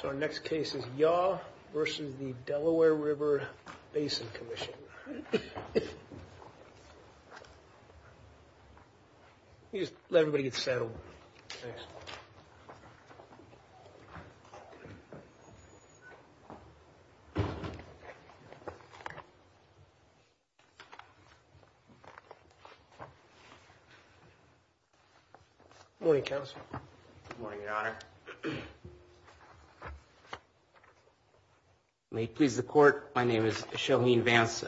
So our next case is Yaw v. Delaware River Basin Commission. Let everybody get settled. Good morning, Counsel. Good morning, Your Honor. May it please the Court, my name is Shohin Vance.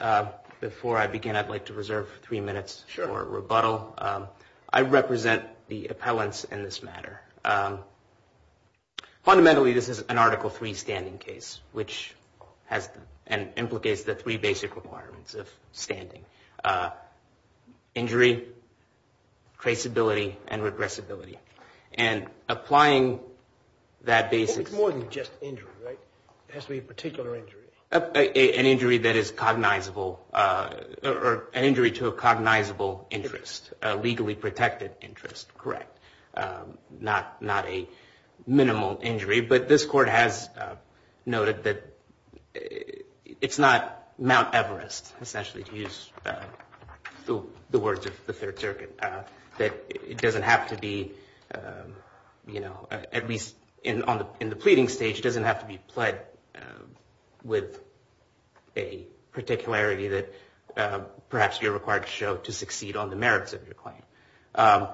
Before I begin, I'd like to reserve three minutes for rebuttal. Sure. I represent the appellants in this matter. Fundamentally, this is an Article III standing case, which has and implicates the three basic requirements of standing, injury, traceability, and regressibility. And applying that basis... It's more than just injury, right? It has to be a particular injury. An injury that is cognizable, or an injury to a cognizable interest, a legally protected interest, correct, not a minimal injury. But this Court has noted that it's not Mount Everest, essentially, to use the words of the Third Circuit. That it doesn't have to be, you know, at least in the pleading stage, it doesn't have to be pled with a particularity that perhaps you're required to show to succeed on the merits of your claim.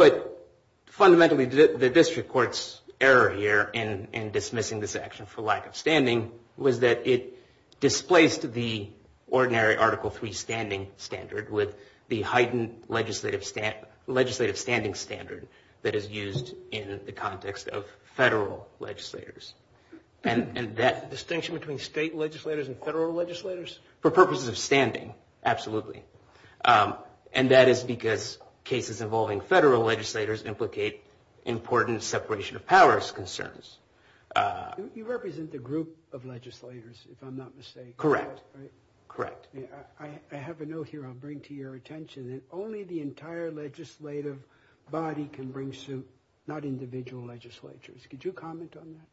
But fundamentally, the District Court's error here in dismissing this action for lack of standing was that it displaced the ordinary Article III standing standard with the heightened legislative standing standard that is used in the context of federal legislators. And that... Distinction between state legislators and federal legislators? For purposes of standing, absolutely. And that is because cases involving federal legislators implicate important separation of powers concerns. You represent the group of legislators, if I'm not mistaken. Correct. Correct. I have a note here I'll bring to your attention, that only the entire legislative body can bring suit, not individual legislatures. Could you comment on that?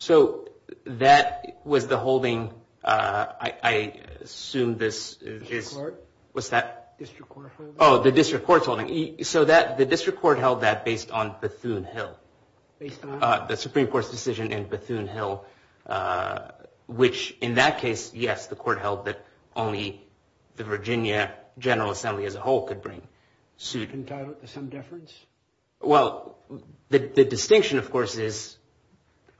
So that was the holding, I assume this is... District Court. What's that? District Court holding. Oh, the District Court's holding. So the District Court held that based on Bethune Hill. Based on? The Supreme Court's decision in Bethune Hill, which in that case, yes, the Court held that only the Virginia General Assembly as a whole could bring suit. Can you tie that to some deference? Well, the distinction, of course, is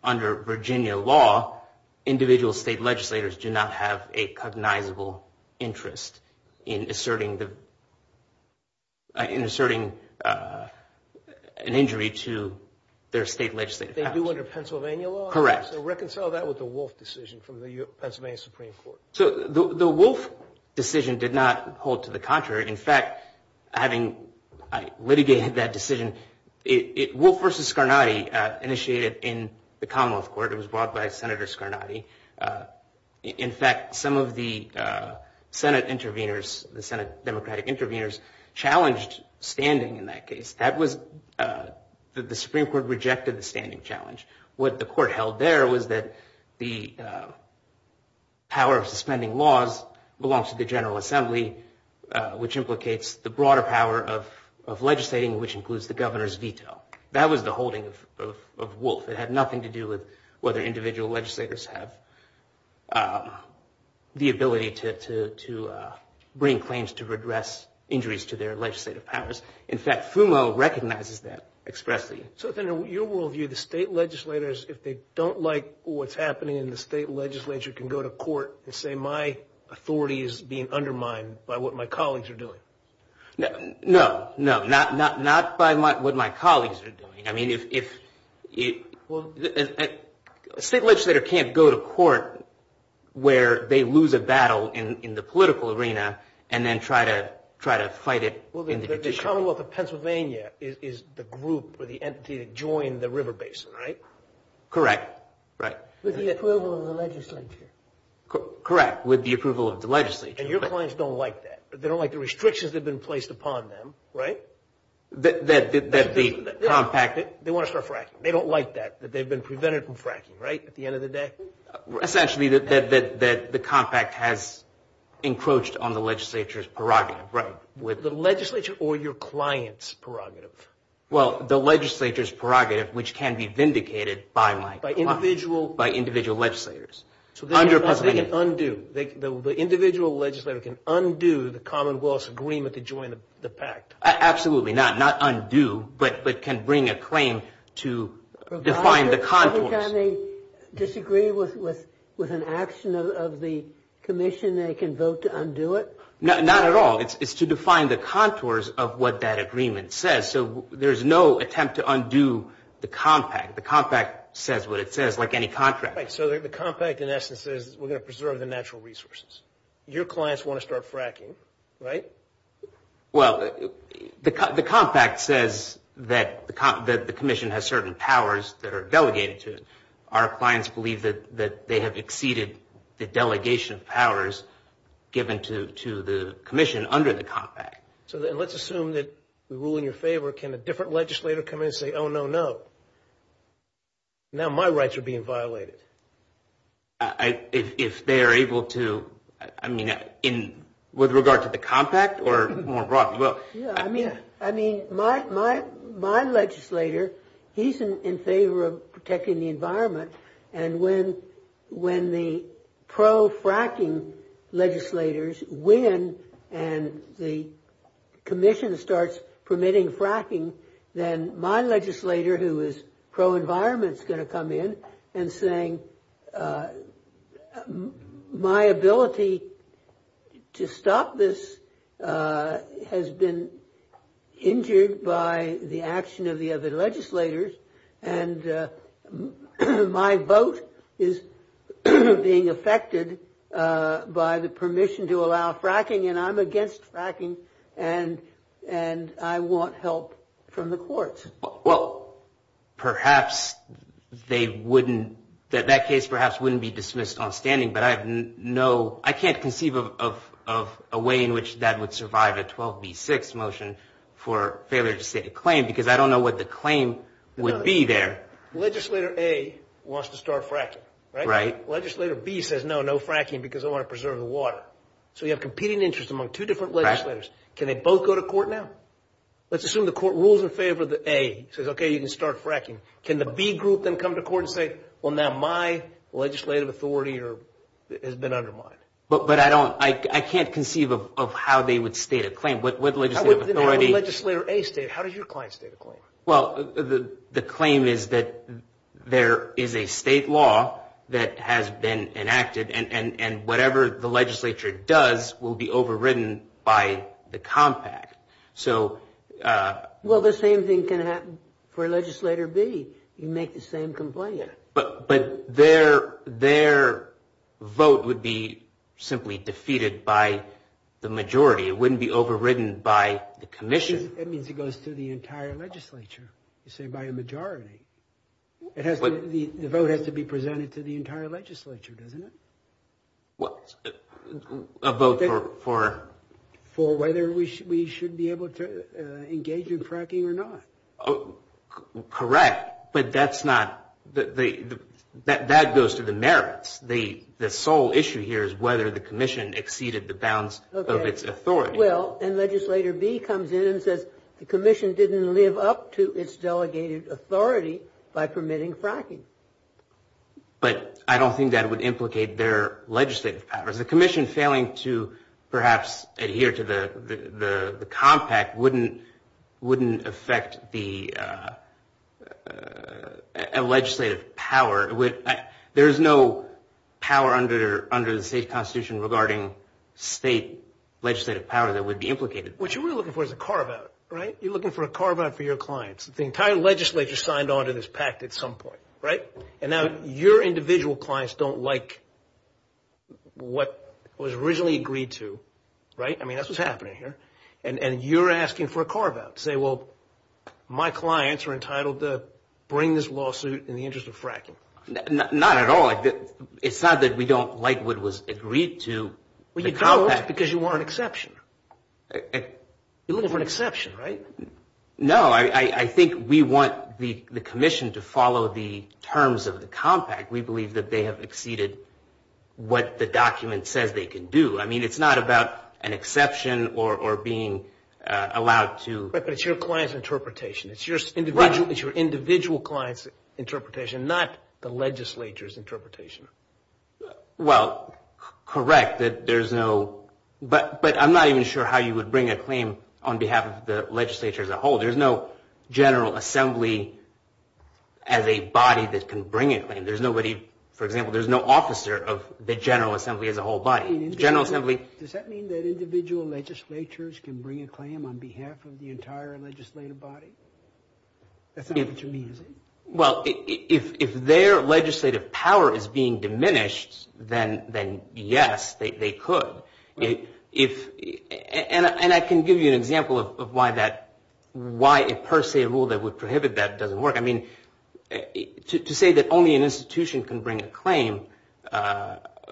under Virginia law, individual state legislators do not have a cognizable interest in asserting the... They do under Pennsylvania law? Correct. So reconcile that with the Wolf decision from the Pennsylvania Supreme Court. So the Wolf decision did not hold to the contrary. In fact, having litigated that decision, Wolf v. Scarnati initiated it in the Commonwealth Court. It was brought by Senator Scarnati. In fact, some of the Senate intervenors, the Senate Democratic intervenors, challenged standing in that case. The Supreme Court rejected the standing challenge. What the Court held there was that the power of suspending laws belongs to the General Assembly, which implicates the broader power of legislating, which includes the governor's veto. That was the holding of Wolf. It had nothing to do with whether individual legislators have the ability to bring claims to redress injuries to their legislative powers. In fact, FUMO recognizes that expressly. So then in your worldview, the state legislators, if they don't like what's happening in the state legislature, can go to court and say my authority is being undermined by what my colleagues are doing? No. No, not by what my colleagues are doing. I mean, if... A state legislator can't go to court where they lose a battle in the political arena and then try to fight it in the judicial arena. Well, the Commonwealth of Pennsylvania is the group or the entity that joined the river basin, right? Correct, right. With the approval of the legislature. Correct, with the approval of the legislature. And your clients don't like that. They don't like the restrictions that have been placed upon them, right? That the compact... They want to start fracking. They don't like that, that they've been prevented from fracking, right, at the end of the day? Essentially that the compact has encroached on the legislature's prerogative. Right. The legislature or your client's prerogative? Well, the legislature's prerogative, which can be vindicated by my client. By individual... By individual legislators. So they can undo. The individual legislator can undo the Commonwealth's agreement to join the pact. Absolutely not. Not undo, but can bring a claim to define the contours. Does that mean they disagree with an action of the commission? They can vote to undo it? Not at all. It's to define the contours of what that agreement says. So there's no attempt to undo the compact. The compact says what it says, like any contract. So the compact, in essence, says we're going to preserve the natural resources. Your clients want to start fracking, right? Well, the compact says that the commission has certain powers that are delegated to it. Our clients believe that they have exceeded the delegation of powers given to the commission under the compact. So let's assume that we rule in your favor. Can a different legislator come in and say, oh, no, no, now my rights are being violated? If they are able to, I mean, with regard to the compact or more broadly? I mean, my legislator, he's in favor of protecting the environment. And when the pro-fracking legislators win and the commission starts permitting fracking, then my legislator, who is pro-environment, is going to come in and say my ability to stop this has been injured by the action of the other legislators. And my vote is being affected by the permission to allow fracking. And I'm against fracking. And I want help from the courts. Well, perhaps they wouldn't, that case perhaps wouldn't be dismissed on standing. But I have no, I can't conceive of a way in which that would survive a 12B6 motion for failure to state a claim. Because I don't know what the claim would be there. Legislator A wants to start fracking, right? Legislator B says, no, no fracking because I want to preserve the water. So you have competing interests among two different legislators. Can they both go to court now? Let's assume the court rules in favor of A, says, okay, you can start fracking. Can the B group then come to court and say, well, now my legislative authority has been undermined? But I don't, I can't conceive of how they would state a claim. How would legislator A state, how does your client state a claim? Well, the claim is that there is a state law that has been enacted. And whatever the legislature does will be overridden by the compact. So. Well, the same thing can happen for legislator B. You make the same complaint. But their vote would be simply defeated by the majority. It wouldn't be overridden by the commission. That means it goes to the entire legislature. You say by a majority. The vote has to be presented to the entire legislature, doesn't it? A vote for? For whether we should be able to engage in fracking or not. Correct. But that's not, that goes to the merits. The sole issue here is whether the commission exceeded the bounds of its authority. It will. And legislator B comes in and says the commission didn't live up to its delegated authority by permitting fracking. But I don't think that would implicate their legislative powers. The commission failing to perhaps adhere to the compact wouldn't affect the legislative power. There is no power under the state constitution regarding state legislative power that would be implicated. What you're really looking for is a carve out, right? You're looking for a carve out for your clients. The entire legislature signed on to this pact at some point, right? And now your individual clients don't like what was originally agreed to, right? I mean, that's what's happening here. And you're asking for a carve out to say, well, my clients are entitled to bring this lawsuit in the interest of fracking. Not at all. It's not that we don't like what was agreed to. Well, you don't because you want an exception. You're looking for an exception, right? No, I think we want the commission to follow the terms of the compact. We believe that they have exceeded what the document says they can do. I mean, it's not about an exception or being allowed to. But it's your client's interpretation. It's your individual client's interpretation, not the legislature's interpretation. Well, correct. But I'm not even sure how you would bring a claim on behalf of the legislature as a whole. There's no general assembly as a body that can bring a claim. For example, there's no officer of the general assembly as a whole body. Does that mean that individual legislatures can bring a claim on behalf of the entire legislative body? That's not what you mean, is it? Well, if their legislative power is being diminished, then yes, they could. And I can give you an example of why a per se rule that would prohibit that doesn't work. I mean, to say that only an institution can bring a claim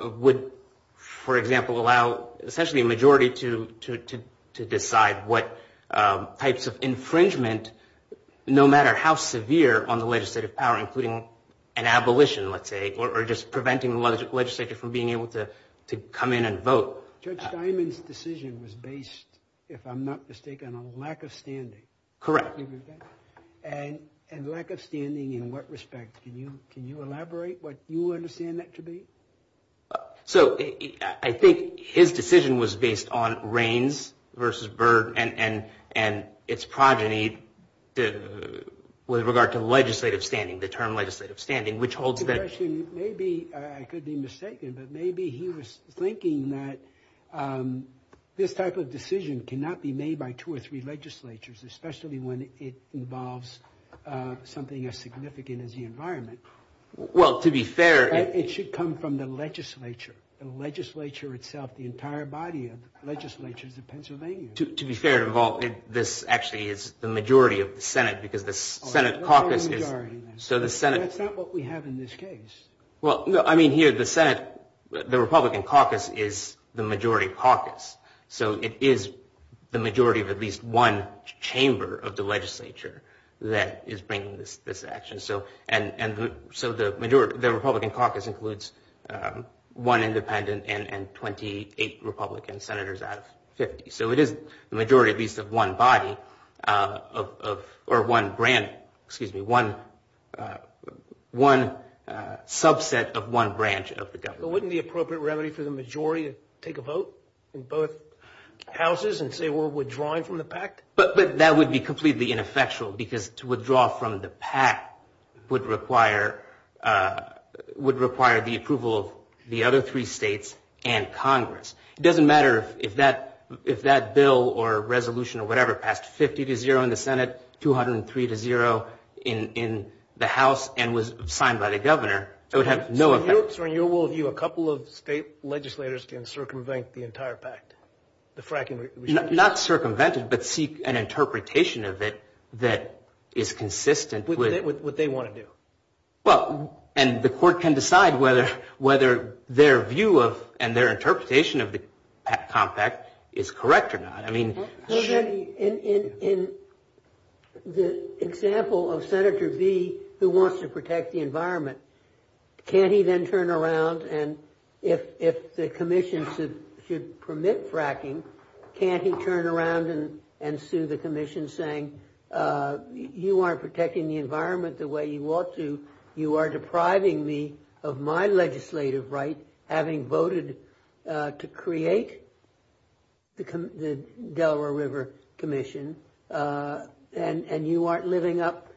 would, for example, allow essentially a majority to decide what types of infringement, no matter how severe on the legislative power, including an abolition, let's say, or just preventing the legislature from being able to come in and vote. Judge Steinman's decision was based, if I'm not mistaken, on lack of standing. Correct. And lack of standing in what respect? Can you elaborate what you understand that to be? So I think his decision was based on Reins versus Byrd and its progeny with regard to legislative standing, the term legislative standing, which holds that... Maybe I could be mistaken, but maybe he was thinking that this type of decision cannot be made by two or three legislatures, especially when it involves something as significant as the environment. Well, to be fair... It should come from the legislature, the legislature itself, the entire body of legislatures of Pennsylvania. To be fair, this actually is the majority of the Senate because the Senate caucus is... That's not what we have in this case. Well, I mean, here the Senate, the Republican caucus is the majority caucus. So it is the majority of at least one chamber of the legislature that is bringing this action. So the Republican caucus includes one independent and 28 Republican senators out of 50. So it is the majority of at least one body or one branch, excuse me, one subset of one branch of the government. But wouldn't the appropriate remedy for the majority take a vote in both houses and say we're withdrawing from the pact? But that would be completely ineffectual because to withdraw from the pact would require the approval of the other three states and Congress. It doesn't matter if that bill or resolution or whatever passed 50 to 0 in the Senate, 203 to 0 in the House and was signed by the governor. It would have no effect. So in your world view, a couple of state legislators can circumvent the entire pact, the fracking resolution? Not circumvent it, but seek an interpretation of it that is consistent with... With what they want to do. Well, and the court can decide whether their view of and their interpretation of the compact is correct or not. In the example of Senator Bee, who wants to protect the environment, can't he then turn around and if the commission should permit fracking, can't he turn around and sue the commission saying you aren't protecting the environment the way you ought to, you are depriving me of my legislative right, having voted to create the Delaware River Commission, and you aren't living up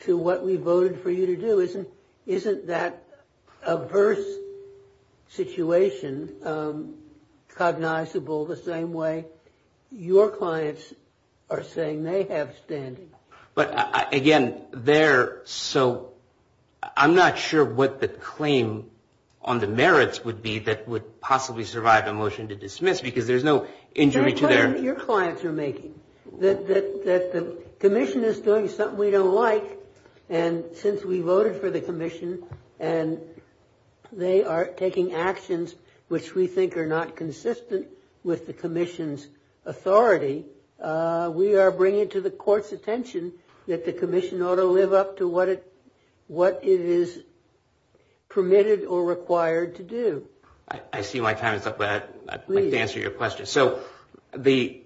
to what we voted for you to do? Isn't that adverse situation cognizable the same way your clients are saying they have standing? But again, they're so... I'm not sure what the claim on the merits would be that would possibly survive a motion to dismiss because there's no injury to their... The claim that your clients are making, that the commission is doing something we don't like, and since we voted for the commission and they are taking actions which we think are not consistent with the commission's authority, we are bringing to the court's attention that the commission ought to live up to what it is permitted or required to do. I see my time is up, but I'd like to answer your question. So the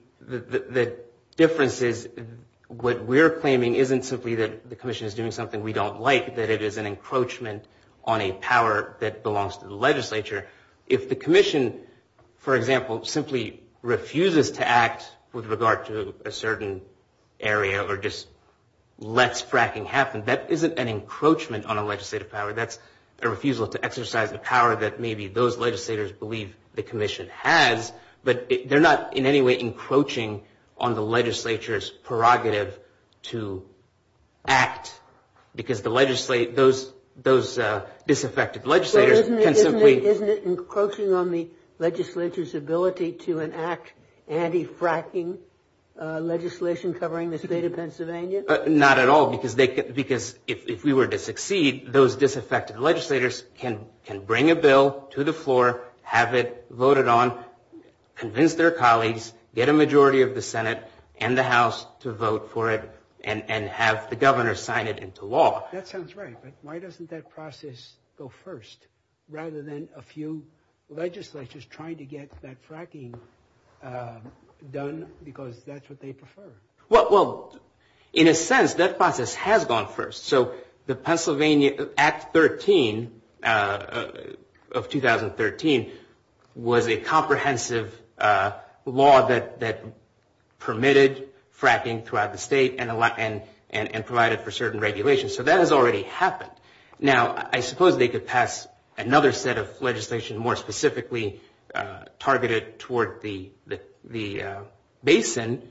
difference is what we're claiming isn't simply that the commission is doing something we don't like, that it is an encroachment on a power that belongs to the legislature. If the commission, for example, simply refuses to act with regard to a certain area or just lets fracking happen, that isn't an encroachment on a legislative power. That's a refusal to exercise a power that maybe those legislators believe the commission has, but they're not in any way encroaching on the legislature's prerogative to act because those disaffected legislators can simply... Isn't it encroaching on the legislature's ability to enact anti-fracking legislation covering the state of Pennsylvania? Not at all, because if we were to succeed, those disaffected legislators can bring a bill to the floor, have it voted on, convince their colleagues, get a majority of the Senate and the House to vote for it, and have the governor sign it into law. That sounds right, but why doesn't that process go first rather than a few legislatures trying to get that fracking done, because that's what they prefer? Well, in a sense, that process has gone first. So the Pennsylvania Act 13 of 2013 was a comprehensive law that permitted fracking throughout the state and provided for certain regulations, so that has already happened. Now, I suppose they could pass another set of legislation more specifically targeted toward the basin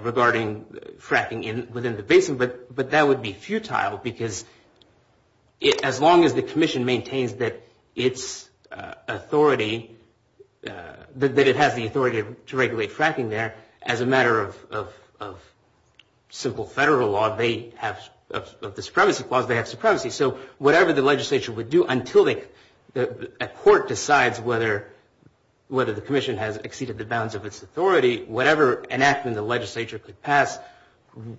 regarding fracking within the basin, but that would be futile because as long as the commission maintains that it has the authority to regulate fracking there, then as a matter of simple federal law of the supremacy clause, they have supremacy. So whatever the legislature would do until a court decides whether the commission has exceeded the bounds of its authority, whatever enactment the legislature could pass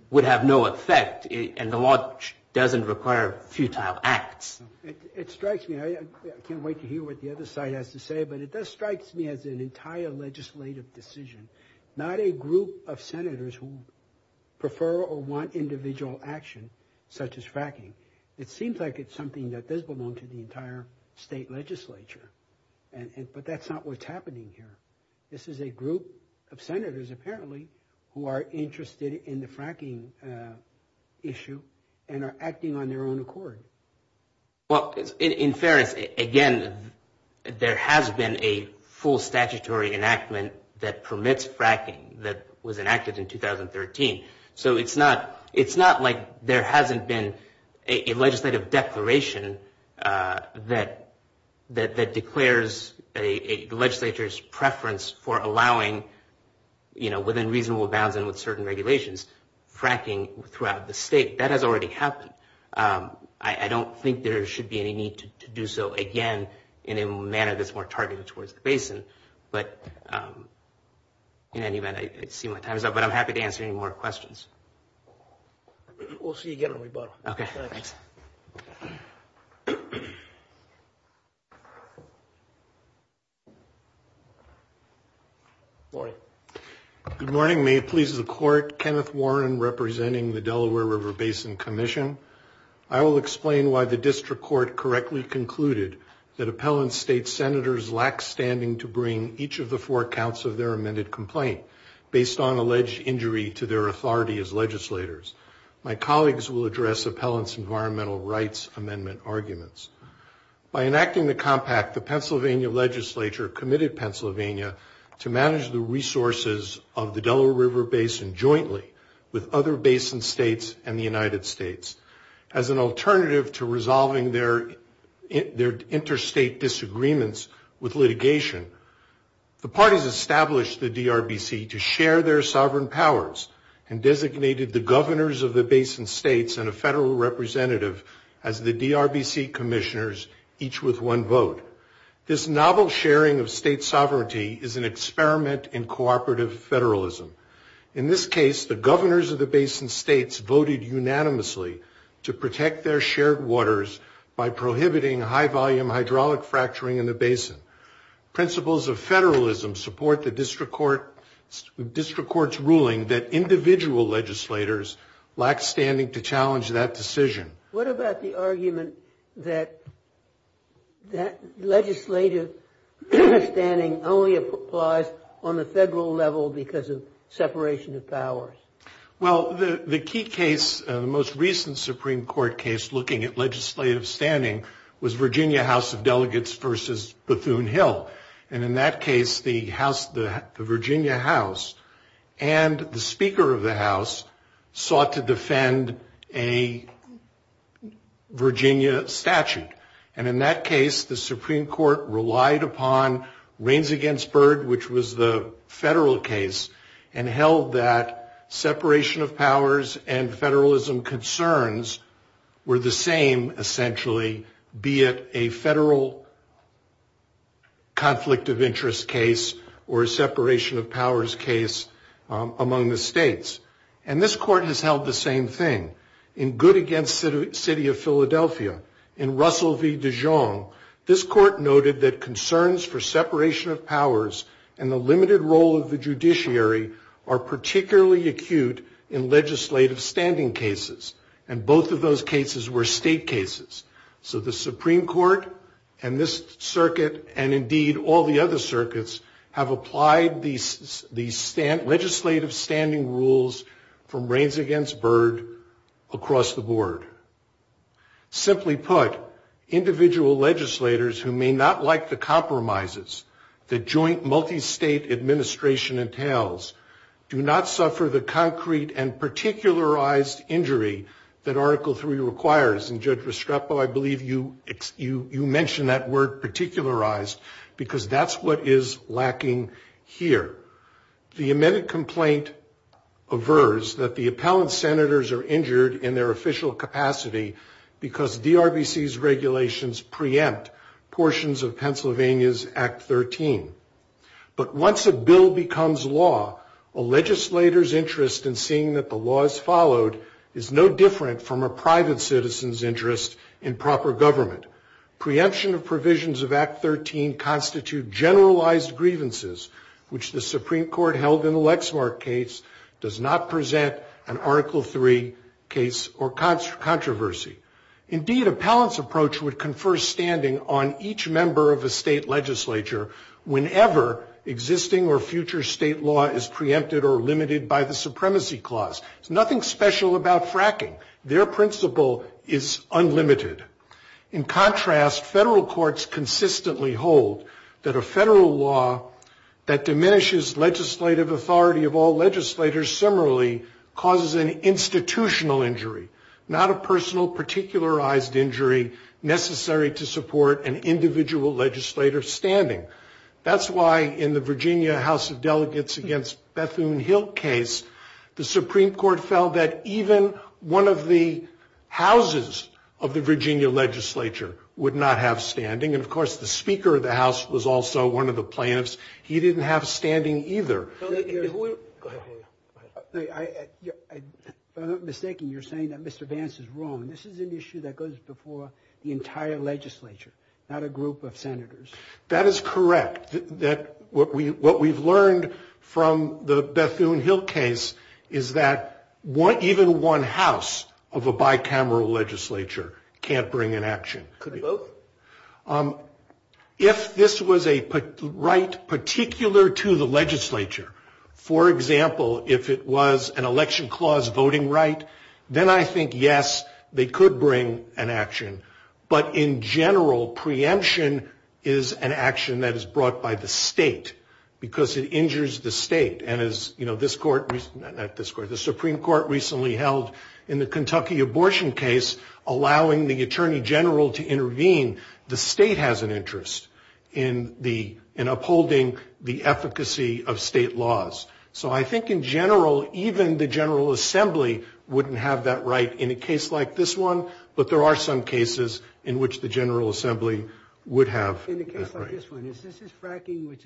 would have no effect, and the law doesn't require futile acts. It strikes me, I can't wait to hear what the other side has to say, but it does strike me as an entire legislative decision, not a group of senators who prefer or want individual action such as fracking. It seems like it's something that does belong to the entire state legislature, but that's not what's happening here. This is a group of senators, apparently, who are interested in the fracking issue and are acting on their own accord. Well, in fairness, again, there has been a full statutory enactment that permits fracking that was enacted in 2013, so it's not like there hasn't been a legislative declaration that declares the legislature's preference for allowing, within reasonable bounds and with certain regulations, fracking throughout the state. That has already happened. I don't think there should be any need to do so again in a manner that's more targeted towards the basin, but in any event, I see my time is up, but I'm happy to answer any more questions. We'll see you again on rebuttal. Okay, thanks. Good morning. Good morning. May it please the Court, Kenneth Warren representing the Delaware River Basin Commission. I will explain why the district court correctly concluded that appellant state senators lack standing to bring each of the four counts of their amended complaint based on alleged injury to their authority as legislators. My colleagues will address appellant's environmental rights amendment arguments. By enacting the compact, the Pennsylvania legislature committed Pennsylvania to manage the resources of the Delaware River Basin jointly with other basin states and the United States. As an alternative to resolving their interstate disagreements with litigation, the parties established the DRBC to share their sovereign powers and designated the governors of the basin states and a federal representative as the DRBC commissioners, each with one vote. This novel sharing of state sovereignty is an experiment in cooperative federalism. In this case, the governors of the basin states voted unanimously to protect their shared waters by prohibiting high-volume hydraulic fracturing in the basin. Principles of federalism support the district court's ruling that individual legislators lack standing to challenge that decision. What about the argument that legislative standing only applies on the federal level because of separation of powers? Well, the key case, the most recent Supreme Court case looking at legislative standing, was Virginia House of Delegates versus Bethune Hill. And in that case, the Virginia House and the Speaker of the House sought to defend a Virginia statute. And in that case, the Supreme Court relied upon Reins Against Bird, which was the federal case, and held that separation of powers and federalism concerns were the same, essentially, be it a federal conflict of interest case or a separation of powers case among the states. And this court has held the same thing. In Good Against City of Philadelphia, in Russell v. Dijon, this court noted that concerns for separation of powers and the limited role of the judiciary are particularly acute in legislative standing cases. And both of those cases were state cases. So the Supreme Court and this circuit, and indeed all the other circuits, have applied these legislative standing rules from Reins Against Bird across the board. Simply put, individual legislators who may not like the compromises the joint multi-state administration entails do not suffer the concrete and particularized injury that Article III requires. And Judge Restrepo, I believe you mentioned that word particularized, because that's what is lacking here. The amended complaint averts that the appellant senators are injured in their official capacity because DRBC's regulations preempt portions of Pennsylvania's Act 13. But once a bill becomes law, a legislator's interest in seeing that the law is followed is no different from a private citizen's interest in proper government. Preemption of provisions of Act 13 constitute generalized grievances, which the Supreme Court held in the Lexmark case does not present an Article III case or controversy. Indeed, appellant's approach would confer standing on each member of a state legislature whenever existing or future state law is preempted or limited by the Supremacy Clause. There's nothing special about fracking. Their principle is unlimited. In contrast, federal courts consistently hold that a federal law that diminishes legislative authority of all legislators similarly causes an institutional injury, not a personal particularized injury necessary to support an individual legislator's standing. That's why in the Virginia House of Delegates against Bethune-Hill case, the Supreme Court felt that even one of the houses of the Virginia legislature would not have standing. And, of course, the Speaker of the House was also one of the plaintiffs. He didn't have standing either. Go ahead. If I'm not mistaken, you're saying that Mr. Vance is wrong. This is an issue that goes before the entire legislature, not a group of senators. That is correct. What we've learned from the Bethune-Hill case is that even one house of a bicameral legislature can't bring an action. Could it be both? If this was a right particular to the legislature, for example, if it was an election clause voting right, then I think, yes, they could bring an action. But in general, preemption is an action that is brought by the state because it injures the state. And as, you know, this court, not this court, the Supreme Court recently held in the Kentucky abortion case, allowing the attorney general to intervene, the state has an interest in upholding the efficacy of state laws. So I think in general, even the General Assembly wouldn't have that right in a case like this one. But there are some cases in which the General Assembly would have. In a case like this one, is this fracking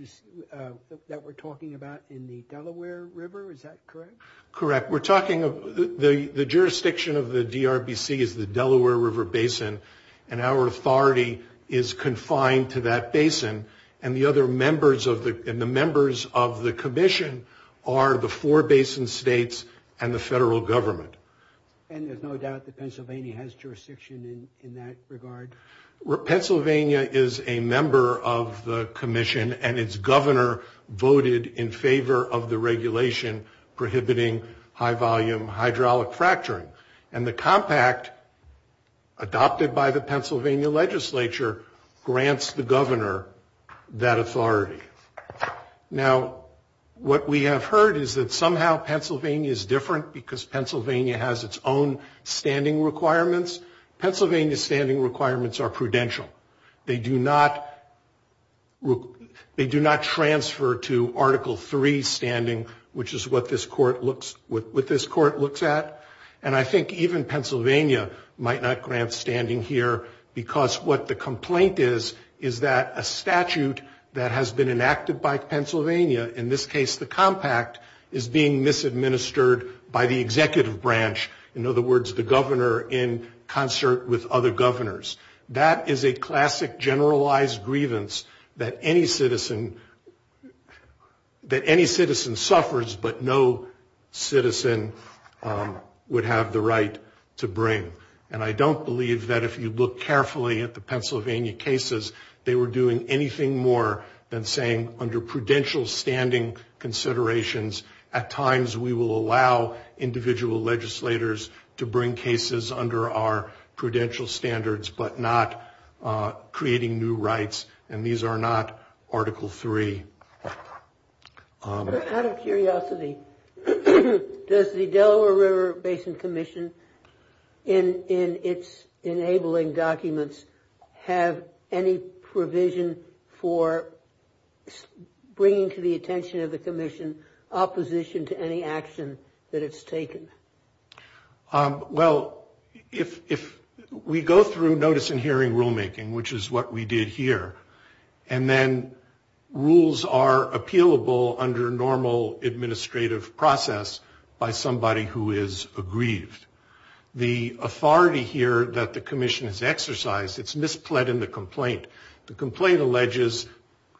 that we're talking about in the Delaware River? Is that correct? Correct. The jurisdiction of the DRBC is the Delaware River Basin, and our authority is confined to that basin. And the members of the commission are the four basin states and the federal government. And there's no doubt that Pennsylvania has jurisdiction in that regard? Pennsylvania is a member of the commission, and its governor voted in favor of the regulation prohibiting high-volume hydraulic fracturing. And the compact adopted by the Pennsylvania legislature grants the governor that authority. Now, what we have heard is that somehow Pennsylvania is different because Pennsylvania has its own standing requirements. Pennsylvania's standing requirements are prudential. They do not transfer to Article III standing, which is what this court looks at. And I think even Pennsylvania might not grant standing here because what the complaint is, is that a statute that has been enacted by Pennsylvania, in this case the compact, is being misadministered by the executive branch. In other words, the governor in concert with other governors. That is a classic generalized grievance that any citizen suffers, but no citizen would have the right to bring. And I don't believe that if you look carefully at the Pennsylvania cases, they were doing anything more than saying under prudential standing considerations, at times we will allow individual legislators to bring cases under our prudential standards, but not creating new rights, and these are not Article III. Out of curiosity, does the Delaware River Basin Commission, in its enabling documents, have any provision for bringing to the attention of the commission opposition to any action that it's taken? Well, if we go through notice and hearing rulemaking, which is what we did here, and then rules are appealable under normal administrative process by somebody who is aggrieved, the authority here that the commission has exercised, it's mispled in the complaint. The complaint alleges,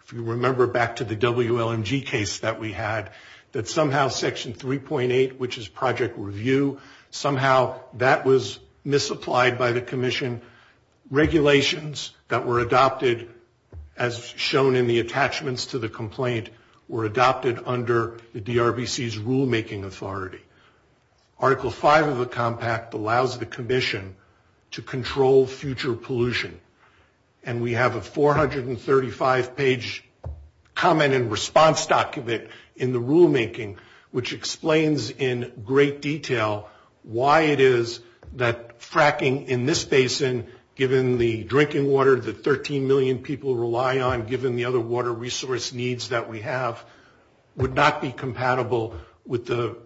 if you remember back to the WLMG case that we had, that somehow Section 3.8, which is project review, somehow that was misapplied by the commission. Regulations that were adopted, as shown in the attachments to the complaint, were adopted under the DRBC's rulemaking authority. Article V of the compact allows the commission to control future pollution, and we have a 435-page comment and response document in the rulemaking, which explains in great detail why it is that fracking in this basin, given the drinking water that 13 million people rely on, given the other water resource needs that we have, would not be compatible with the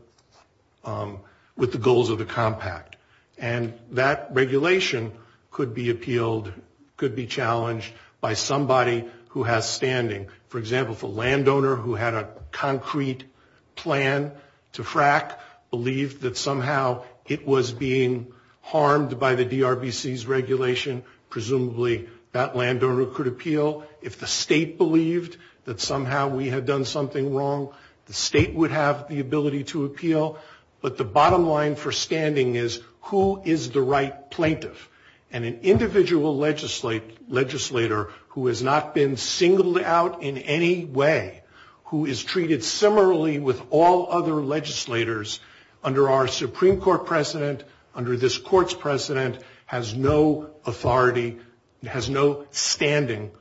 goals of the compact. And that regulation could be appealed, could be challenged by somebody who has standing. For example, if a landowner who had a concrete plan to frack believed that somehow it was being harmed by the DRBC's regulation, presumably that landowner could appeal. If the state believed that somehow we had done something wrong, the state would have the ability to appeal. But the bottom line for standing is, who is the right plaintiff? And an individual legislator who has not been singled out in any way, who is treated similarly with all other legislators under our Supreme Court precedent, under this court's precedent, has no authority, has no standing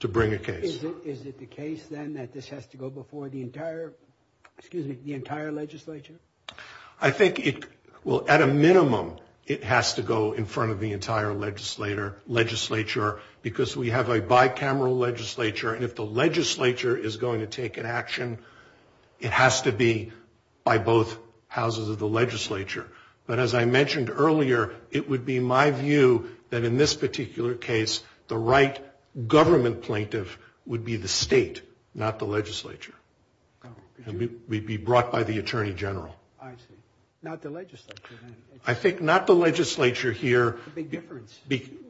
to bring a case. Is it the case, then, that this has to go before the entire legislature? I think at a minimum it has to go in front of the entire legislature because we have a bicameral legislature, and if the legislature is going to take an action, it has to be by both houses of the legislature. But as I mentioned earlier, it would be my view that in this particular case, the right government plaintiff would be the state, not the legislature. We'd be brought by the attorney general. I see. Not the legislature, then. I think not the legislature here. A big difference.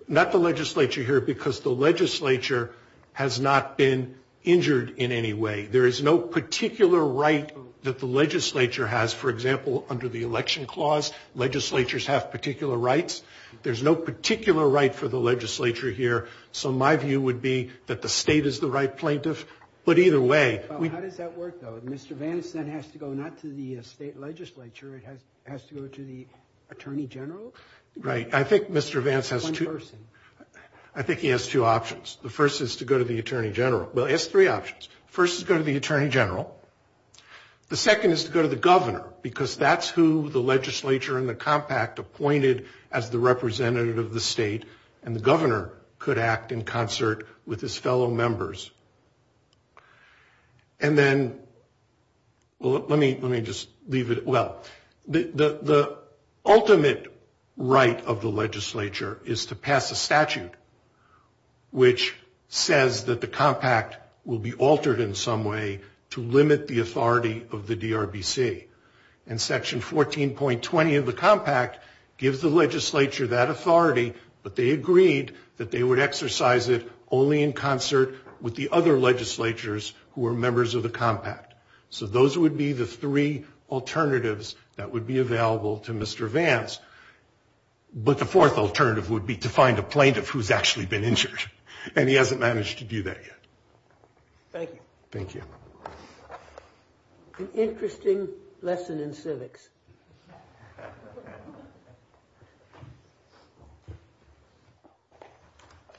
Not the legislature here because the legislature has not been injured in any way. There is no particular right that the legislature has. For example, under the election clause, legislatures have particular rights. There's no particular right for the legislature here. So my view would be that the state is the right plaintiff. But either way. How does that work, though? Mr. Vance then has to go not to the state legislature. It has to go to the attorney general? Right. I think Mr. Vance has two. One person. I think he has two options. The first is to go to the attorney general. Well, he has three options. The first is to go to the attorney general. The second is to go to the governor because that's who the legislature and the compact appointed as the representative of the state, and the governor could act in concert with his fellow members. And then let me just leave it. Well, the ultimate right of the legislature is to pass a statute which says that the compact will be altered in some way to limit the authority of the DRBC. And Section 14.20 of the compact gives the legislature that authority, but they agreed that they would exercise it only in concert with the other legislatures who are members of the compact. So those would be the three alternatives that would be available to Mr. Vance. But the fourth alternative would be to find a plaintiff who's actually been Thank you. Thank you. An interesting lesson in civics.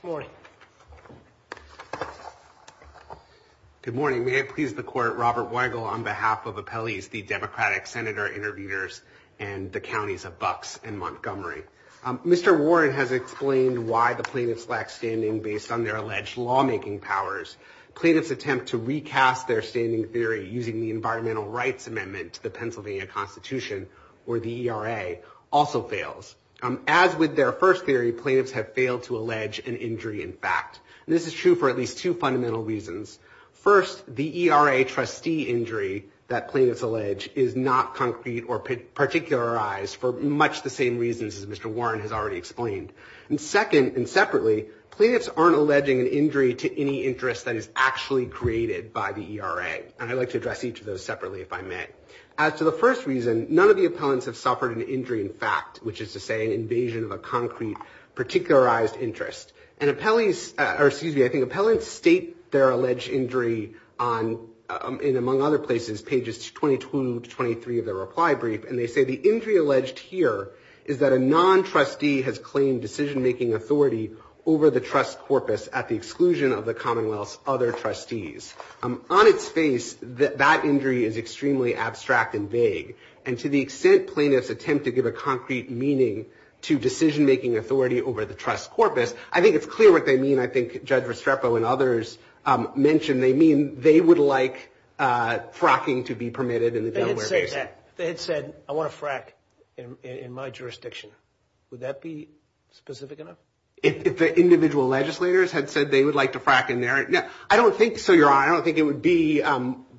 Good morning. Good morning. May it please the court, Robert Weigel, on behalf of appellees, the Democratic senator interviewers, and the counties of Bucks and Montgomery. Mr. Warren has explained why the plaintiffs lack standing based on their alleged lawmaking powers. Plaintiffs attempt to recast their standing theory using the environmental rights amendment to the Pennsylvania Constitution, or the ERA, also fails. As with their first theory, plaintiffs have failed to allege an injury in fact. And this is true for at least two fundamental reasons. First, the ERA trustee injury that plaintiffs allege is not concrete or particularized for much the same reasons as Mr. Warren has already explained. And second, and separately, plaintiffs aren't alleging an injury to any interest that is actually created by the ERA. And I'd like to address each of those separately if I may. As to the first reason, none of the appellants have suffered an injury in fact, which is to say an invasion of a concrete, particularized interest. And appellees, or excuse me, I think appellants state their alleged injury on, in among other places, pages 22 to 23 of their reply brief. And they say the injury alleged here is that a non-trustee has claimed decision-making authority over the trust corpus at the exclusion of the Commonwealth's other trustees. On its face, that injury is extremely abstract and vague. And to the extent plaintiffs attempt to give a concrete meaning to decision-making authority over the trust corpus, I think it's clear what they mean. I think Judge Restrepo and others mentioned they mean they would like fracking to be permitted in the Delaware Basin. If they had said, I want to frack in my jurisdiction, would that be specific enough? If the individual legislators had said they would like to frack in their, I don't think so, Your Honor. I don't think it would be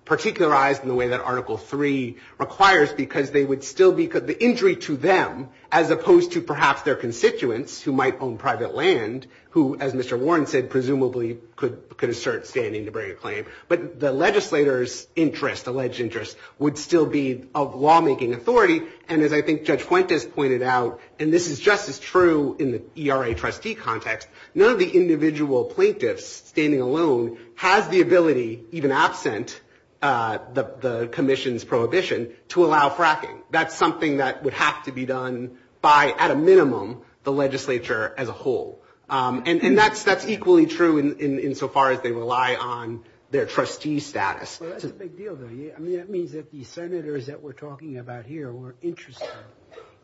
particularized in the way that Article 3 requires because they would still be, the injury to them, as opposed to perhaps their constituents who might own private land who, as Mr. Warren said, presumably could assert standing to bring a claim. But the legislator's interest, alleged interest, would still be of lawmaking authority. And as I think Judge Fuentes pointed out, and this is just as true in the ERA trustee context, none of the individual plaintiffs standing alone has the ability, even absent the commission's prohibition, to allow fracking. That's something that would have to be done by, at a minimum, the legislature as a whole. And that's equally true insofar as they rely on their trustee status. That's a big deal, though. I mean, that means that the senators that we're talking about here who are interested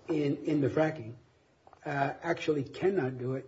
in the fracking actually cannot do it.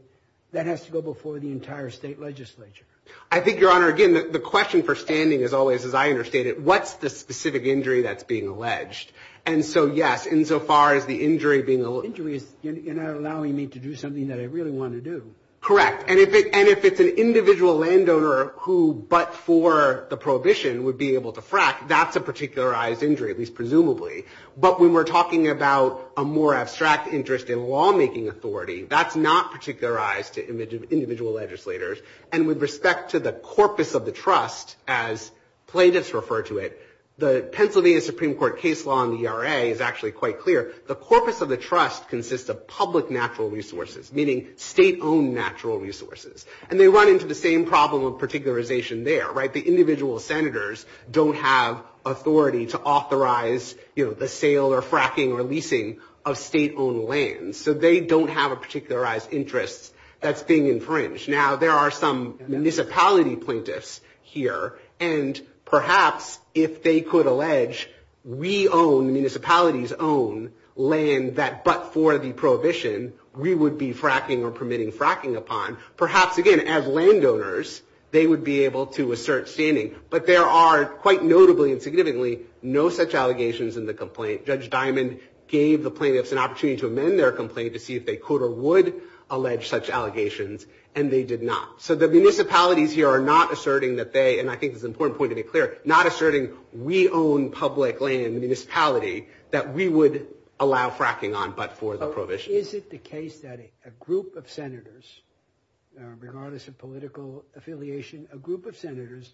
That has to go before the entire state legislature. I think, Your Honor, again, the question for standing, as always, as I understand it, what's the specific injury that's being alleged? And so, yes, insofar as the injury being alleged. The injury is allowing me to do something that I really want to do. Correct. And if it's an individual landowner who, but for the prohibition, would be able to frack, that's a particularized injury, at least presumably. But when we're talking about a more abstract interest in lawmaking authority, that's not particularized to individual legislators. And with respect to the corpus of the trust, as plaintiffs refer to it, the Pennsylvania Supreme Court case law in the ERA is actually quite clear. The corpus of the trust consists of public natural resources, meaning state-owned natural resources. And they run into the same problem of particularization there, right? The individual senators don't have authority to authorize, you know, the sale or fracking or leasing of state-owned lands. So they don't have a particularized interest that's being infringed. Now, there are some municipality plaintiffs here. And perhaps if they could allege we own, municipalities own, land that, but for the prohibition, we would be fracking or permitting fracking upon, perhaps, again, as landowners, they would be able to assert standing. But there are, quite notably and significantly, no such allegations in the complaint. Judge Diamond gave the plaintiffs an opportunity to amend their complaint to see if they could or would allege such allegations, and they did not. So the municipalities here are not asserting that they, and I think it's an important point to be clear, not asserting we own public land, municipality, that we would allow fracking on but for the prohibition. Is it the case that a group of senators, regardless of political affiliation, a group of senators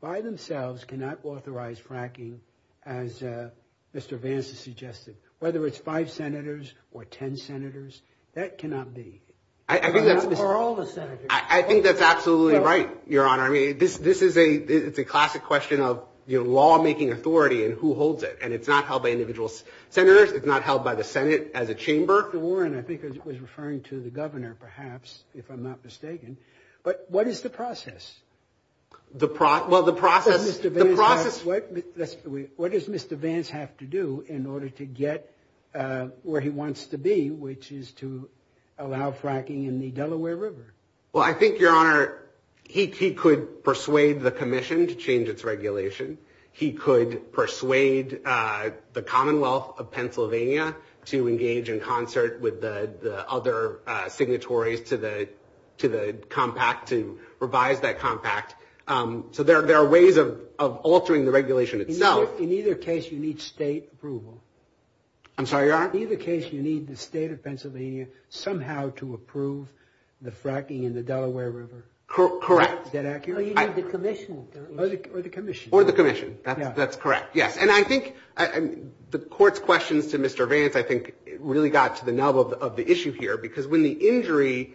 by themselves cannot authorize fracking, as Mr. Vance has suggested? Whether it's five senators or 10 senators, that cannot be. I think that's absolutely right, Your Honor. I mean, this is a classic question of law-making authority and who holds it, and it's not held by individual senators. It's not held by the Senate as a chamber. Mr. Warren, I think I was referring to the governor, perhaps, if I'm not mistaken. But what is the process? Well, the process, the process What does Mr. Vance have to do in order to get where he wants to be, which is to allow fracking in the Delaware River? Well, I think, Your Honor, he could persuade the commission to change its regulation. He could persuade the Commonwealth of Pennsylvania to engage in concert with the other signatories to the compact, to revise that compact. So there are ways of altering the regulation itself. In either case, you need state approval. I'm sorry, Your Honor? In either case, you need the state of Pennsylvania somehow to approve the fracking in the Delaware River. Correct. Is that accurate? No, you need the commission. Or the commission. Or the commission. That's correct, yes. And I think the court's questions to Mr. Vance, I think, really got to the nub of the issue here, because when the injury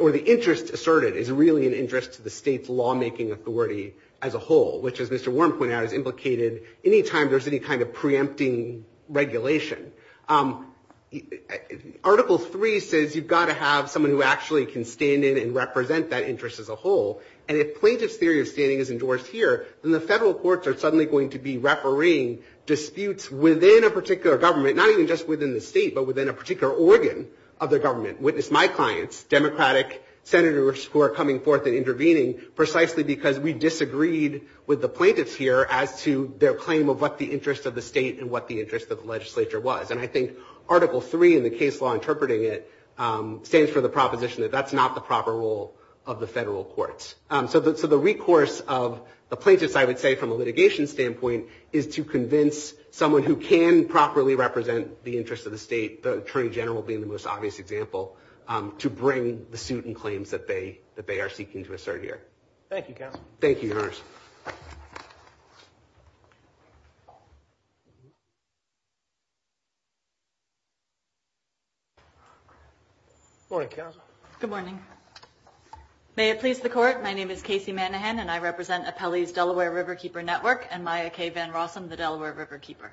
or the interest asserted is really an interest to the state's law-making authority as a whole, which, as Mr. Warren pointed out, is implicated any time there's any kind of preempting regulation. Article 3 says you've got to have someone who actually can stand in and represent that interest as a whole. And if plaintiff's theory of standing is endorsed here, then the federal courts are suddenly going to be refereeing disputes within a particular government, not even just within the state, but within a particular organ of the government. Witness my clients, Democratic senators who are coming forth and intervening, precisely because we disagreed with the plaintiffs here as to their claim of what the interest of the state and what the interest of the legislature was. And I think Article 3 in the case law interpreting it stands for the proposition that that's not the proper role of the federal courts. So the recourse of the plaintiffs, I would say, from a litigation standpoint, is to convince someone who can properly represent the interest of the state, the Attorney General being the most obvious example, to bring the suit and claims that they are seeking to assert here. Thank you, Counsel. Thank you, Your Honors. Good morning, Counsel. Good morning. May it please the Court, my name is Casey Manahan, and I represent Appellee's Delaware Riverkeeper Network and Maya K. Van Rossum, the Delaware Riverkeeper.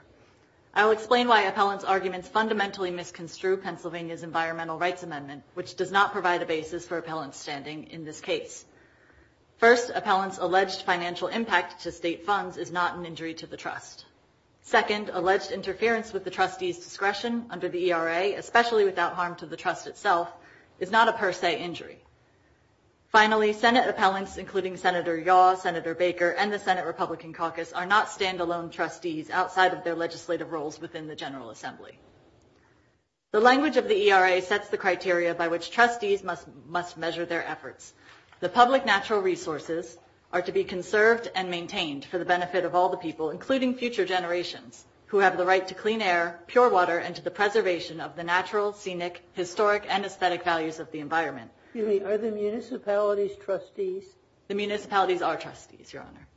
I will explain why appellant's arguments fundamentally misconstrue Pennsylvania's Environmental Rights Amendment, which does not provide a basis for appellant's standing in this case. First, appellant's alleged financial impact to state funds is not an injury to the trust. Second, alleged interference with the trustee's discretion under the ERA, especially without harm to the trust itself, is not a per se injury. Finally, Senate appellants, including Senator Yaw, Senator Baker, and the Senate Republican Caucus, are not stand-alone trustees outside of their legislative roles within the General Assembly. The language of the ERA sets the criteria by which trustees must measure their efforts. The public natural resources are to be conserved and maintained for the benefit of all the people, including future generations, who have the right to clean air, pure water, and to the preservation of the natural, scenic, historic, and aesthetic values of the environment. Are the municipalities trustees? The municipalities are trustees, Your Honor.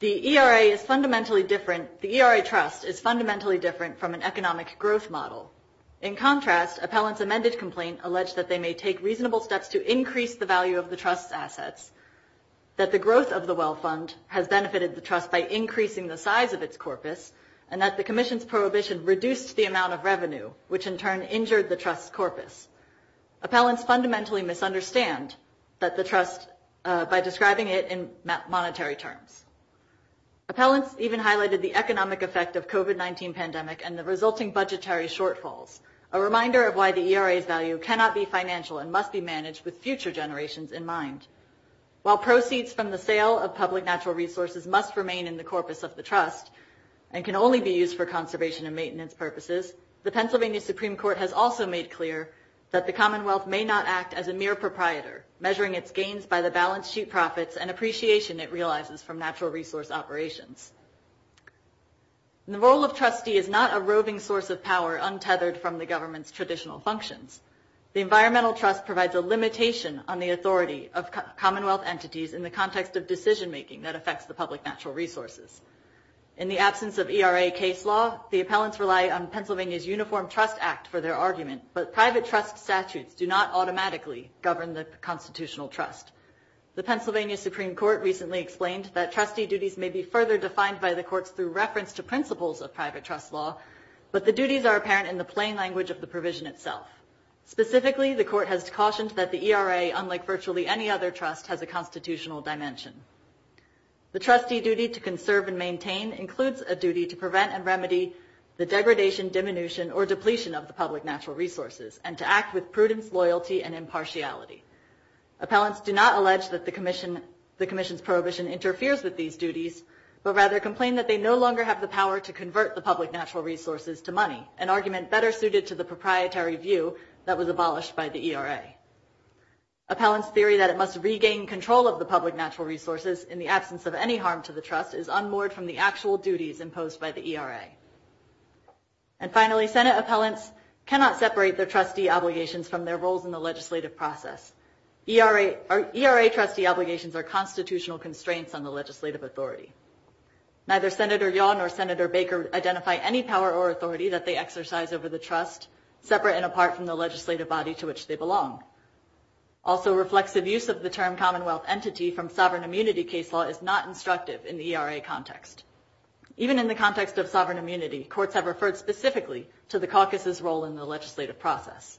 The ERA trust is fundamentally different from an economic growth model. In contrast, appellant's amended complaint alleged that they may take reasonable steps to increase the value of the trust's assets, that the growth of the Wealth Fund has benefited the trust by increasing the size of its corpus, and that the commission's prohibition reduced the amount of revenue, which in turn injured the trust's corpus. Appellants fundamentally misunderstand the trust by describing it in monetary terms. Appellants even highlighted the economic effect of the COVID-19 pandemic and the resulting budgetary shortfalls, a reminder of why the ERA's value cannot be financial and must be managed with future generations in mind. While proceeds from the sale of public natural resources must remain in the corpus of the trust and can only be used for conservation and maintenance purposes, the Pennsylvania Supreme Court has also made clear that the Commonwealth may not act as a mere proprietor, measuring its gains by the balance sheet profits and appreciation it realizes from natural resource operations. The role of trustee is not a roving source of power untethered from the government's traditional functions. The environmental trust provides a limitation on the authority of Commonwealth entities in the context of decision-making that affects the public natural resources. In the absence of ERA case law, the appellants rely on Pennsylvania's Uniform Trust Act for their argument, but private trust statutes do not automatically govern the constitutional trust. The Pennsylvania Supreme Court recently explained that trustee duties may be further defined by the courts through reference to principles of private trust law, but the duties are apparent in the plain language of the provision itself. Specifically, the court has cautioned that the ERA, unlike virtually any other trust, has a constitutional dimension. The trustee duty to conserve and maintain includes a duty to prevent and remedy the degradation, diminution, or depletion of the public natural resources, and to act with prudence, loyalty, and impartiality. Appellants do not allege that the commission's prohibition interferes with these duties, but rather complain that they no longer have the power to convert the public natural resources to money, an argument better suited to the proprietary view that was abolished by the ERA. Appellants' theory that it must regain control of the public natural resources in the absence of any harm to the trust is unmoored from the actual duties imposed by the ERA. And finally, Senate appellants cannot separate their trustee obligations from their roles in the legislative process. ERA trustee obligations are constitutional constraints on the legislative authority. Neither Senator Yaw nor Senator Baker identify any power or authority that they exercise over the trust, separate and apart from the legislative body to which they belong. Also, reflexive use of the term Commonwealth entity from sovereign immunity case law is not instructive in the ERA context. Even in the context of sovereign immunity, courts have referred specifically to the caucus's role in the legislative process.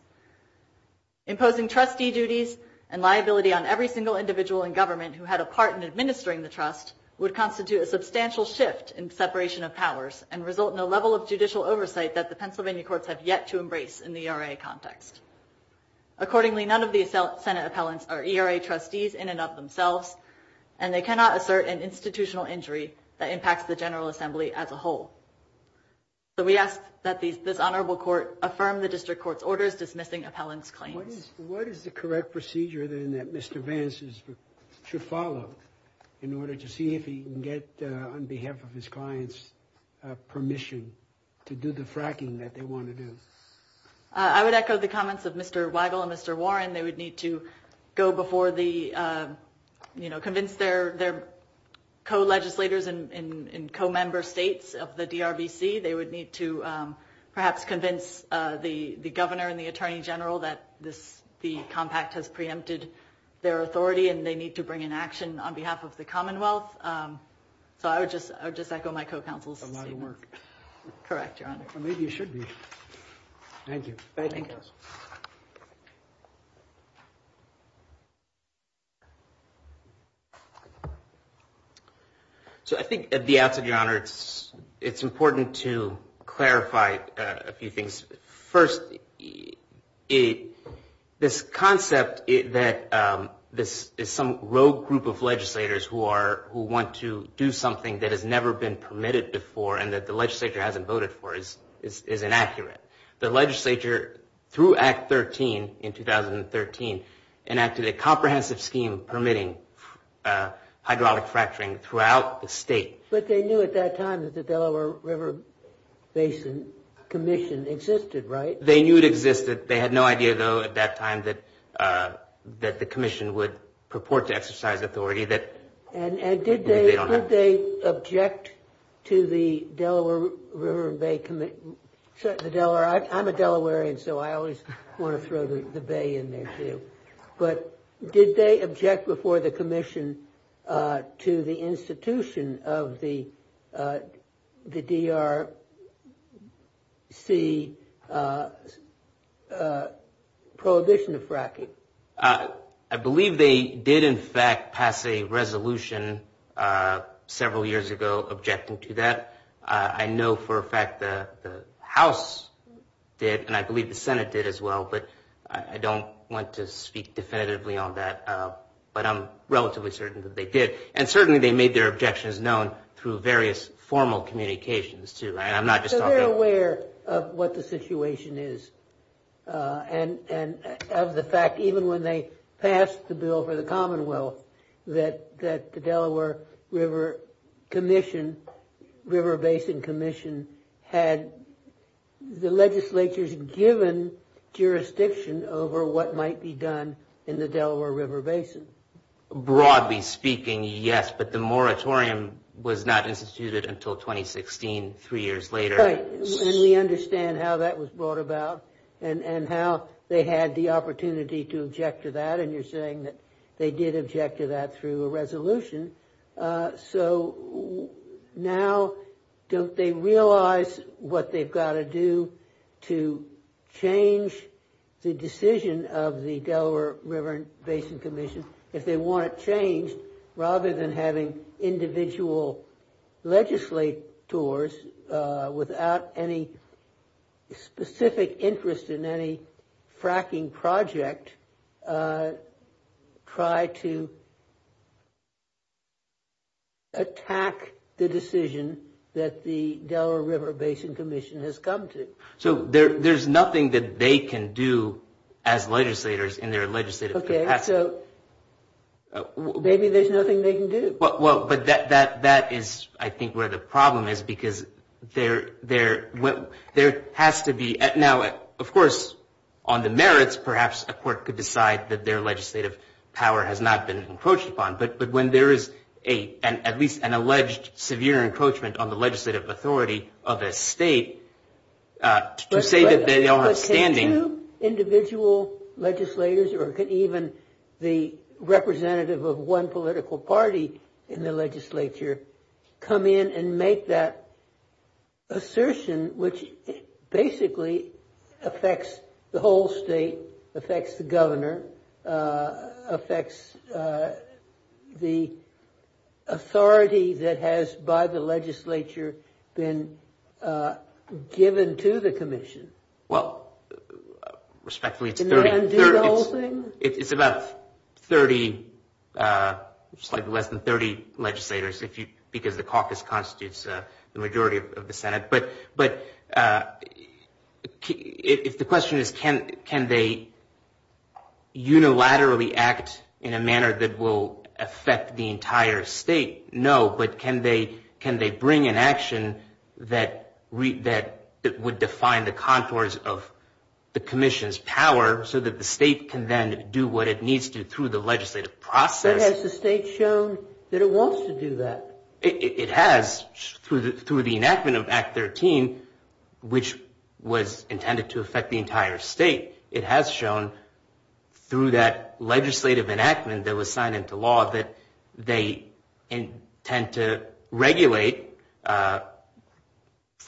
Imposing trustee duties and liability on every single individual in government who had a part in administering the trust would constitute a substantial shift in separation of powers and result in a level of judicial oversight that the Pennsylvania courts have yet to embrace in the ERA context. Accordingly, none of the Senate appellants are ERA trustees in and of themselves, and they cannot assert an institutional injury that impacts the General Assembly as a whole. So we ask that this honorable court affirm the district court's orders dismissing appellants' claims. What is the correct procedure then that Mr. Vance should follow in order to see if he can get, on behalf of his clients, permission to do the fracking that they want to do? I would echo the comments of Mr. Weigel and Mr. Warren. They would need to go before the, you know, convince their co-legislators and co-member states of the DRVC. They would need to perhaps convince the governor and the attorney general that the compact has preempted their authority, and they need to bring an action on behalf of the Commonwealth. So I would just echo my co-counsel's statement. A lot of work. Correct, Your Honor. Well, maybe you should be. Thank you. So I think at the outset, Your Honor, it's important to clarify a few things. First, this concept that this is some rogue group of legislators who want to do something that has never been permitted before and that the legislature hasn't voted for is inaccurate. The legislature, through Act 13 in 2013, enacted a comprehensive scheme permitting hydraulic fracturing throughout the state. But they knew at that time that the Delaware River Basin Commission existed, right? They knew it existed. They had no idea, though, at that time that the commission would purport to exercise authority that they don't have. And did they object to the Delaware River and Bay Commission? I'm a Delawarean, so I always want to throw the bay in there, too. But did they object before the commission to the institution of the DRC prohibition of fracking? I believe they did, in fact, pass a resolution several years ago objecting to that. I know for a fact the House did, and I believe the Senate did as well. But I don't want to speak definitively on that. But I'm relatively certain that they did. And certainly they made their objections known through various formal communications, too. So they're aware of what the situation is and of the fact, even when they passed the bill for the Commonwealth, that the Delaware River Basin Commission had the legislature's given jurisdiction over what might be done in the Delaware River Basin. Broadly speaking, yes. But the moratorium was not instituted until 2016, three years later. Right. And we understand how that was brought about and how they had the opportunity to object to that. And you're saying that they did object to that through a resolution. So now don't they realize what they've got to do to change the decision of the Delaware River Basin Commission? Rather than having individual legislators, without any specific interest in any fracking project, try to attack the decision that the Delaware River Basin Commission has come to. So there's nothing that they can do as legislators in their legislative capacity. So maybe there's nothing they can do. Well, but that is, I think, where the problem is because there has to be. Now, of course, on the merits, perhaps a court could decide that their legislative power has not been encroached upon. But when there is at least an alleged severe encroachment on the legislative authority of a state to say that they all have standing. Do individual legislators or even the representative of one political party in the legislature come in and make that assertion, which basically affects the whole state, affects the governor, affects the authority that has, by the legislature, been given to the commission? Well, respectfully, it's about 30, slightly less than 30 legislators because the caucus constitutes the majority of the Senate. But if the question is can they unilaterally act in a manner that will affect the entire state, no. But can they bring an action that would define the contours of the commission's power so that the state can then do what it needs to through the legislative process? But has the state shown that it wants to do that? It has through the enactment of Act 13, which was intended to affect the entire state. It has shown through that legislative enactment that was signed into law that they intend to regulate fracking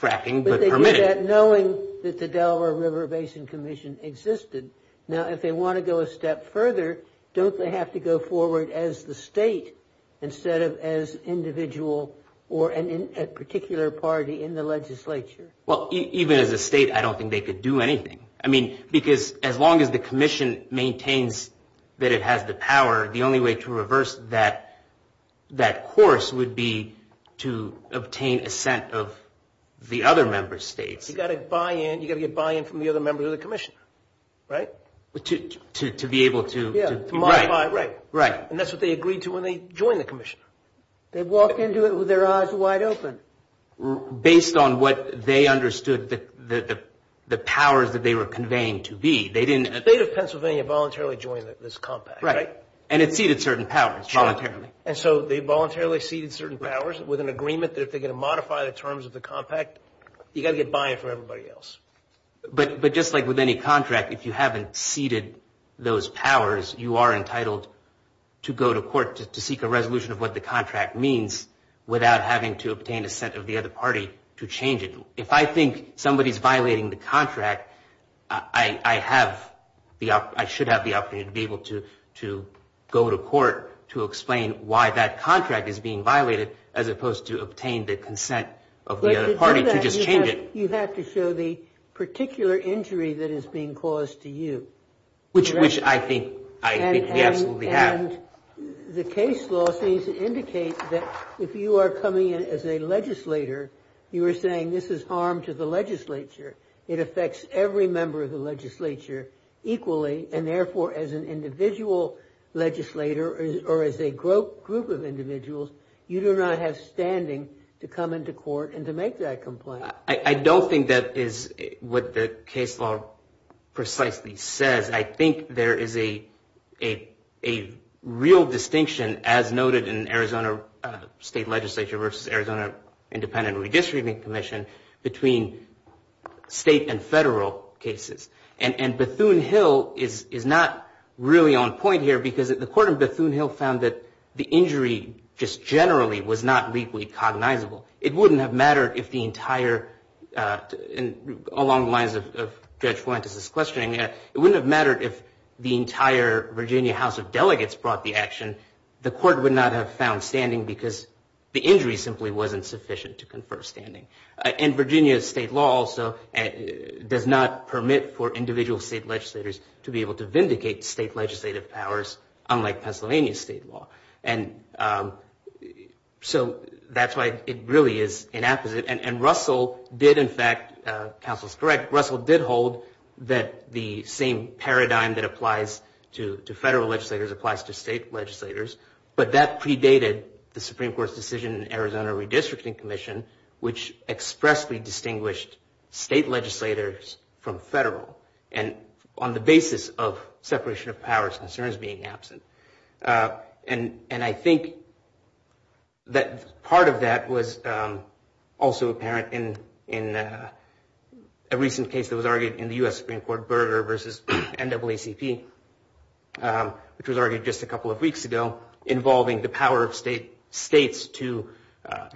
but permit it. But they did that knowing that the Delaware River Basin Commission existed. Now, if they want to go a step further, don't they have to go forward as the state instead of as individual or a particular party in the legislature? Well, even as a state, I don't think they could do anything. I mean, because as long as the commission maintains that it has the power, the only way to reverse that course would be to obtain assent of the other member states. You've got to get buy-in from the other members of the commission, right? To be able to – To modify, right. Right. And that's what they agreed to when they joined the commission. They walked into it with their eyes wide open. Based on what they understood the powers that they were conveying to be, they didn't – The state of Pennsylvania voluntarily joined this compact, right? Right. And it ceded certain powers voluntarily. And so they voluntarily ceded certain powers with an agreement that if they're going to modify the terms of the compact, you've got to get buy-in from everybody else. But just like with any contract, if you haven't ceded those powers, you are entitled to go to court to seek a resolution of what the contract means without having to obtain assent of the other party to change it. If I think somebody is violating the contract, I should have the opportunity to be able to go to court to explain why that contract is being violated as opposed to obtain the consent of the other party to just change it. You have to show the particular injury that is being caused to you. Which I think we absolutely have. And the case law seems to indicate that if you are coming in as a legislator, you are saying this is harm to the legislature. It affects every member of the legislature equally. And therefore, as an individual legislator or as a group of individuals, you do not have standing to come into court and to make that complaint. I don't think that is what the case law precisely says. I think there is a real distinction, as noted in Arizona State Legislature versus Arizona Independent Redistributing Commission, between state and federal cases. And Bethune-Hill is not really on point here because the court in Bethune-Hill found that the injury just generally was not legally cognizable. It wouldn't have mattered if the entire, along the lines of Judge Fuentes' questioning, it wouldn't have mattered if the entire Virginia House of Delegates brought the action. The court would not have found standing because the injury simply wasn't sufficient to confer standing. And Virginia state law also does not permit for individual state legislators to be able to vindicate state legislative powers, unlike Pennsylvania state law. And so that's why it really is inapposite. And Russell did, in fact, counsel is correct, Russell did hold that the same paradigm that applies to federal legislators applies to state legislators. But that predated the Supreme Court's decision in Arizona Redistricting Commission, which expressly distinguished state legislators from federal. And on the basis of separation of powers concerns being absent. And I think that part of that was also apparent in a recent case that was argued in the U.S. Supreme Court, Berger v. NAACP, which was argued just a couple of weeks ago, involving the power of states to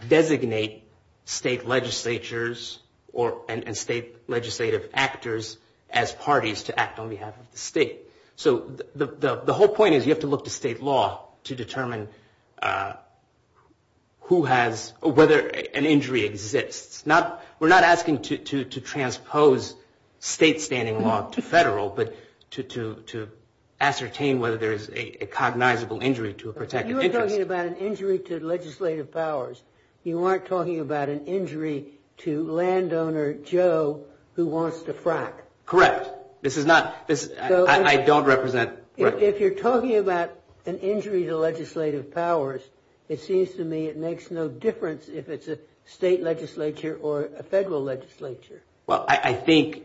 designate state legislatures and state legislative actors as parties to act on behalf of the state. So the whole point is you have to look to state law to determine who has or whether an injury exists. We're not asking to transpose state standing law to federal, but to ascertain whether there is a cognizable injury to a protected interest. You are talking about an injury to legislative powers. You aren't talking about an injury to landowner Joe who wants to frack. Correct. This is not, I don't represent. If you're talking about an injury to legislative powers, it seems to me it makes no difference if it's a state legislature or a federal legislature. Well, I think,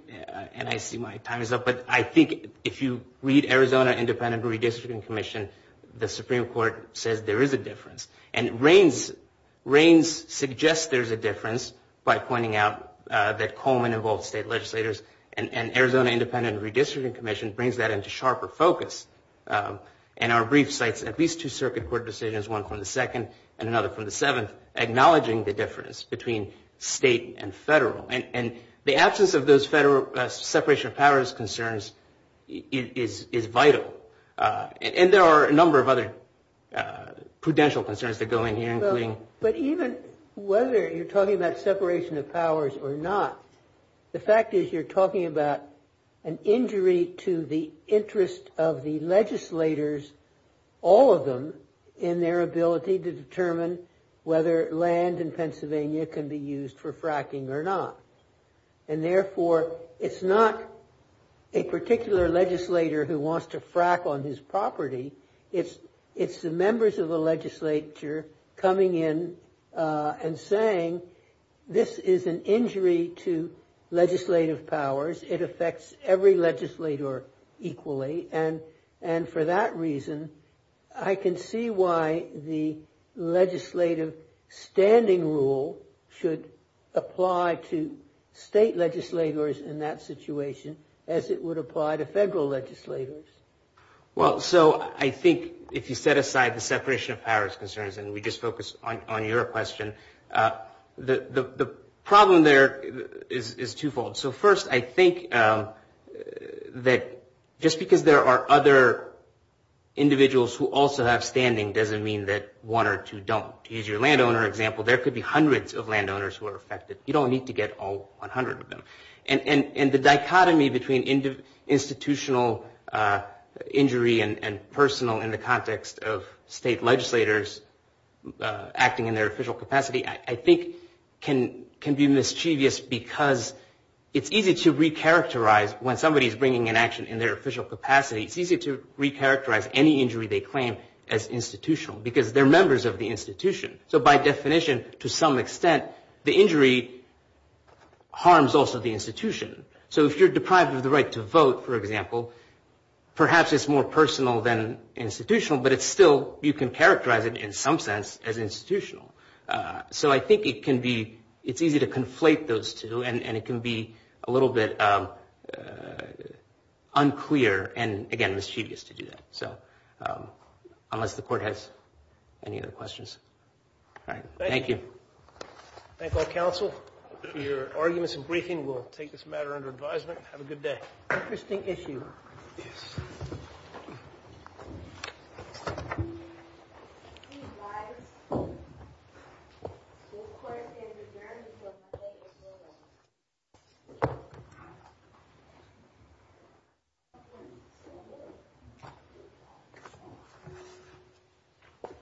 and I see my time is up, but I think if you read Arizona Independent Redistricting Commission, the Supreme Court says there is a difference. And Reins suggests there is a difference by pointing out that Coleman involves state legislators, and Arizona Independent Redistricting Commission brings that into sharper focus. And our brief cites at least two circuit court decisions, one from the second and another from the seventh, acknowledging the difference between state and federal. And the absence of those federal separation of powers concerns is vital. And there are a number of other prudential concerns that go in here. But even whether you're talking about separation of powers or not, the fact is you're talking about an injury to the interest of the legislators, all of them, in their ability to determine whether land in Pennsylvania can be used for fracking or not. And therefore, it's not a particular legislator who wants to frack on his property. It's the members of the legislature coming in and saying this is an injury to legislative powers. It affects every legislator equally. And for that reason, I can see why the legislative standing rule should apply to state legislators in that situation, as it would apply to federal legislators. Well, so I think if you set aside the separation of powers concerns, and we just focus on your question, the problem there is twofold. So first, I think that just because there are other individuals who also have standing doesn't mean that one or two don't. To use your landowner example, there could be hundreds of landowners who are affected. You don't need to get all 100 of them. And the dichotomy between institutional injury and personal in the context of state legislators acting in their official capacity, I think can be mischievous because it's easy to recharacterize when somebody is bringing an action in their official capacity. It's easy to recharacterize any injury they claim as institutional because they're members of the institution. So by definition, to some extent, the injury harms also the institution. So if you're deprived of the right to vote, for example, perhaps it's more personal than institutional, but still you can characterize it in some sense as institutional. So I think it's easy to conflate those two, and it can be a little bit unclear and, again, mischievous to do that. So unless the Court has any other questions. All right. Thank you. Thank you. Thank all counsel for your arguments and briefing. We'll take this matter under advisement. Have a good day. Interesting issue. Yes.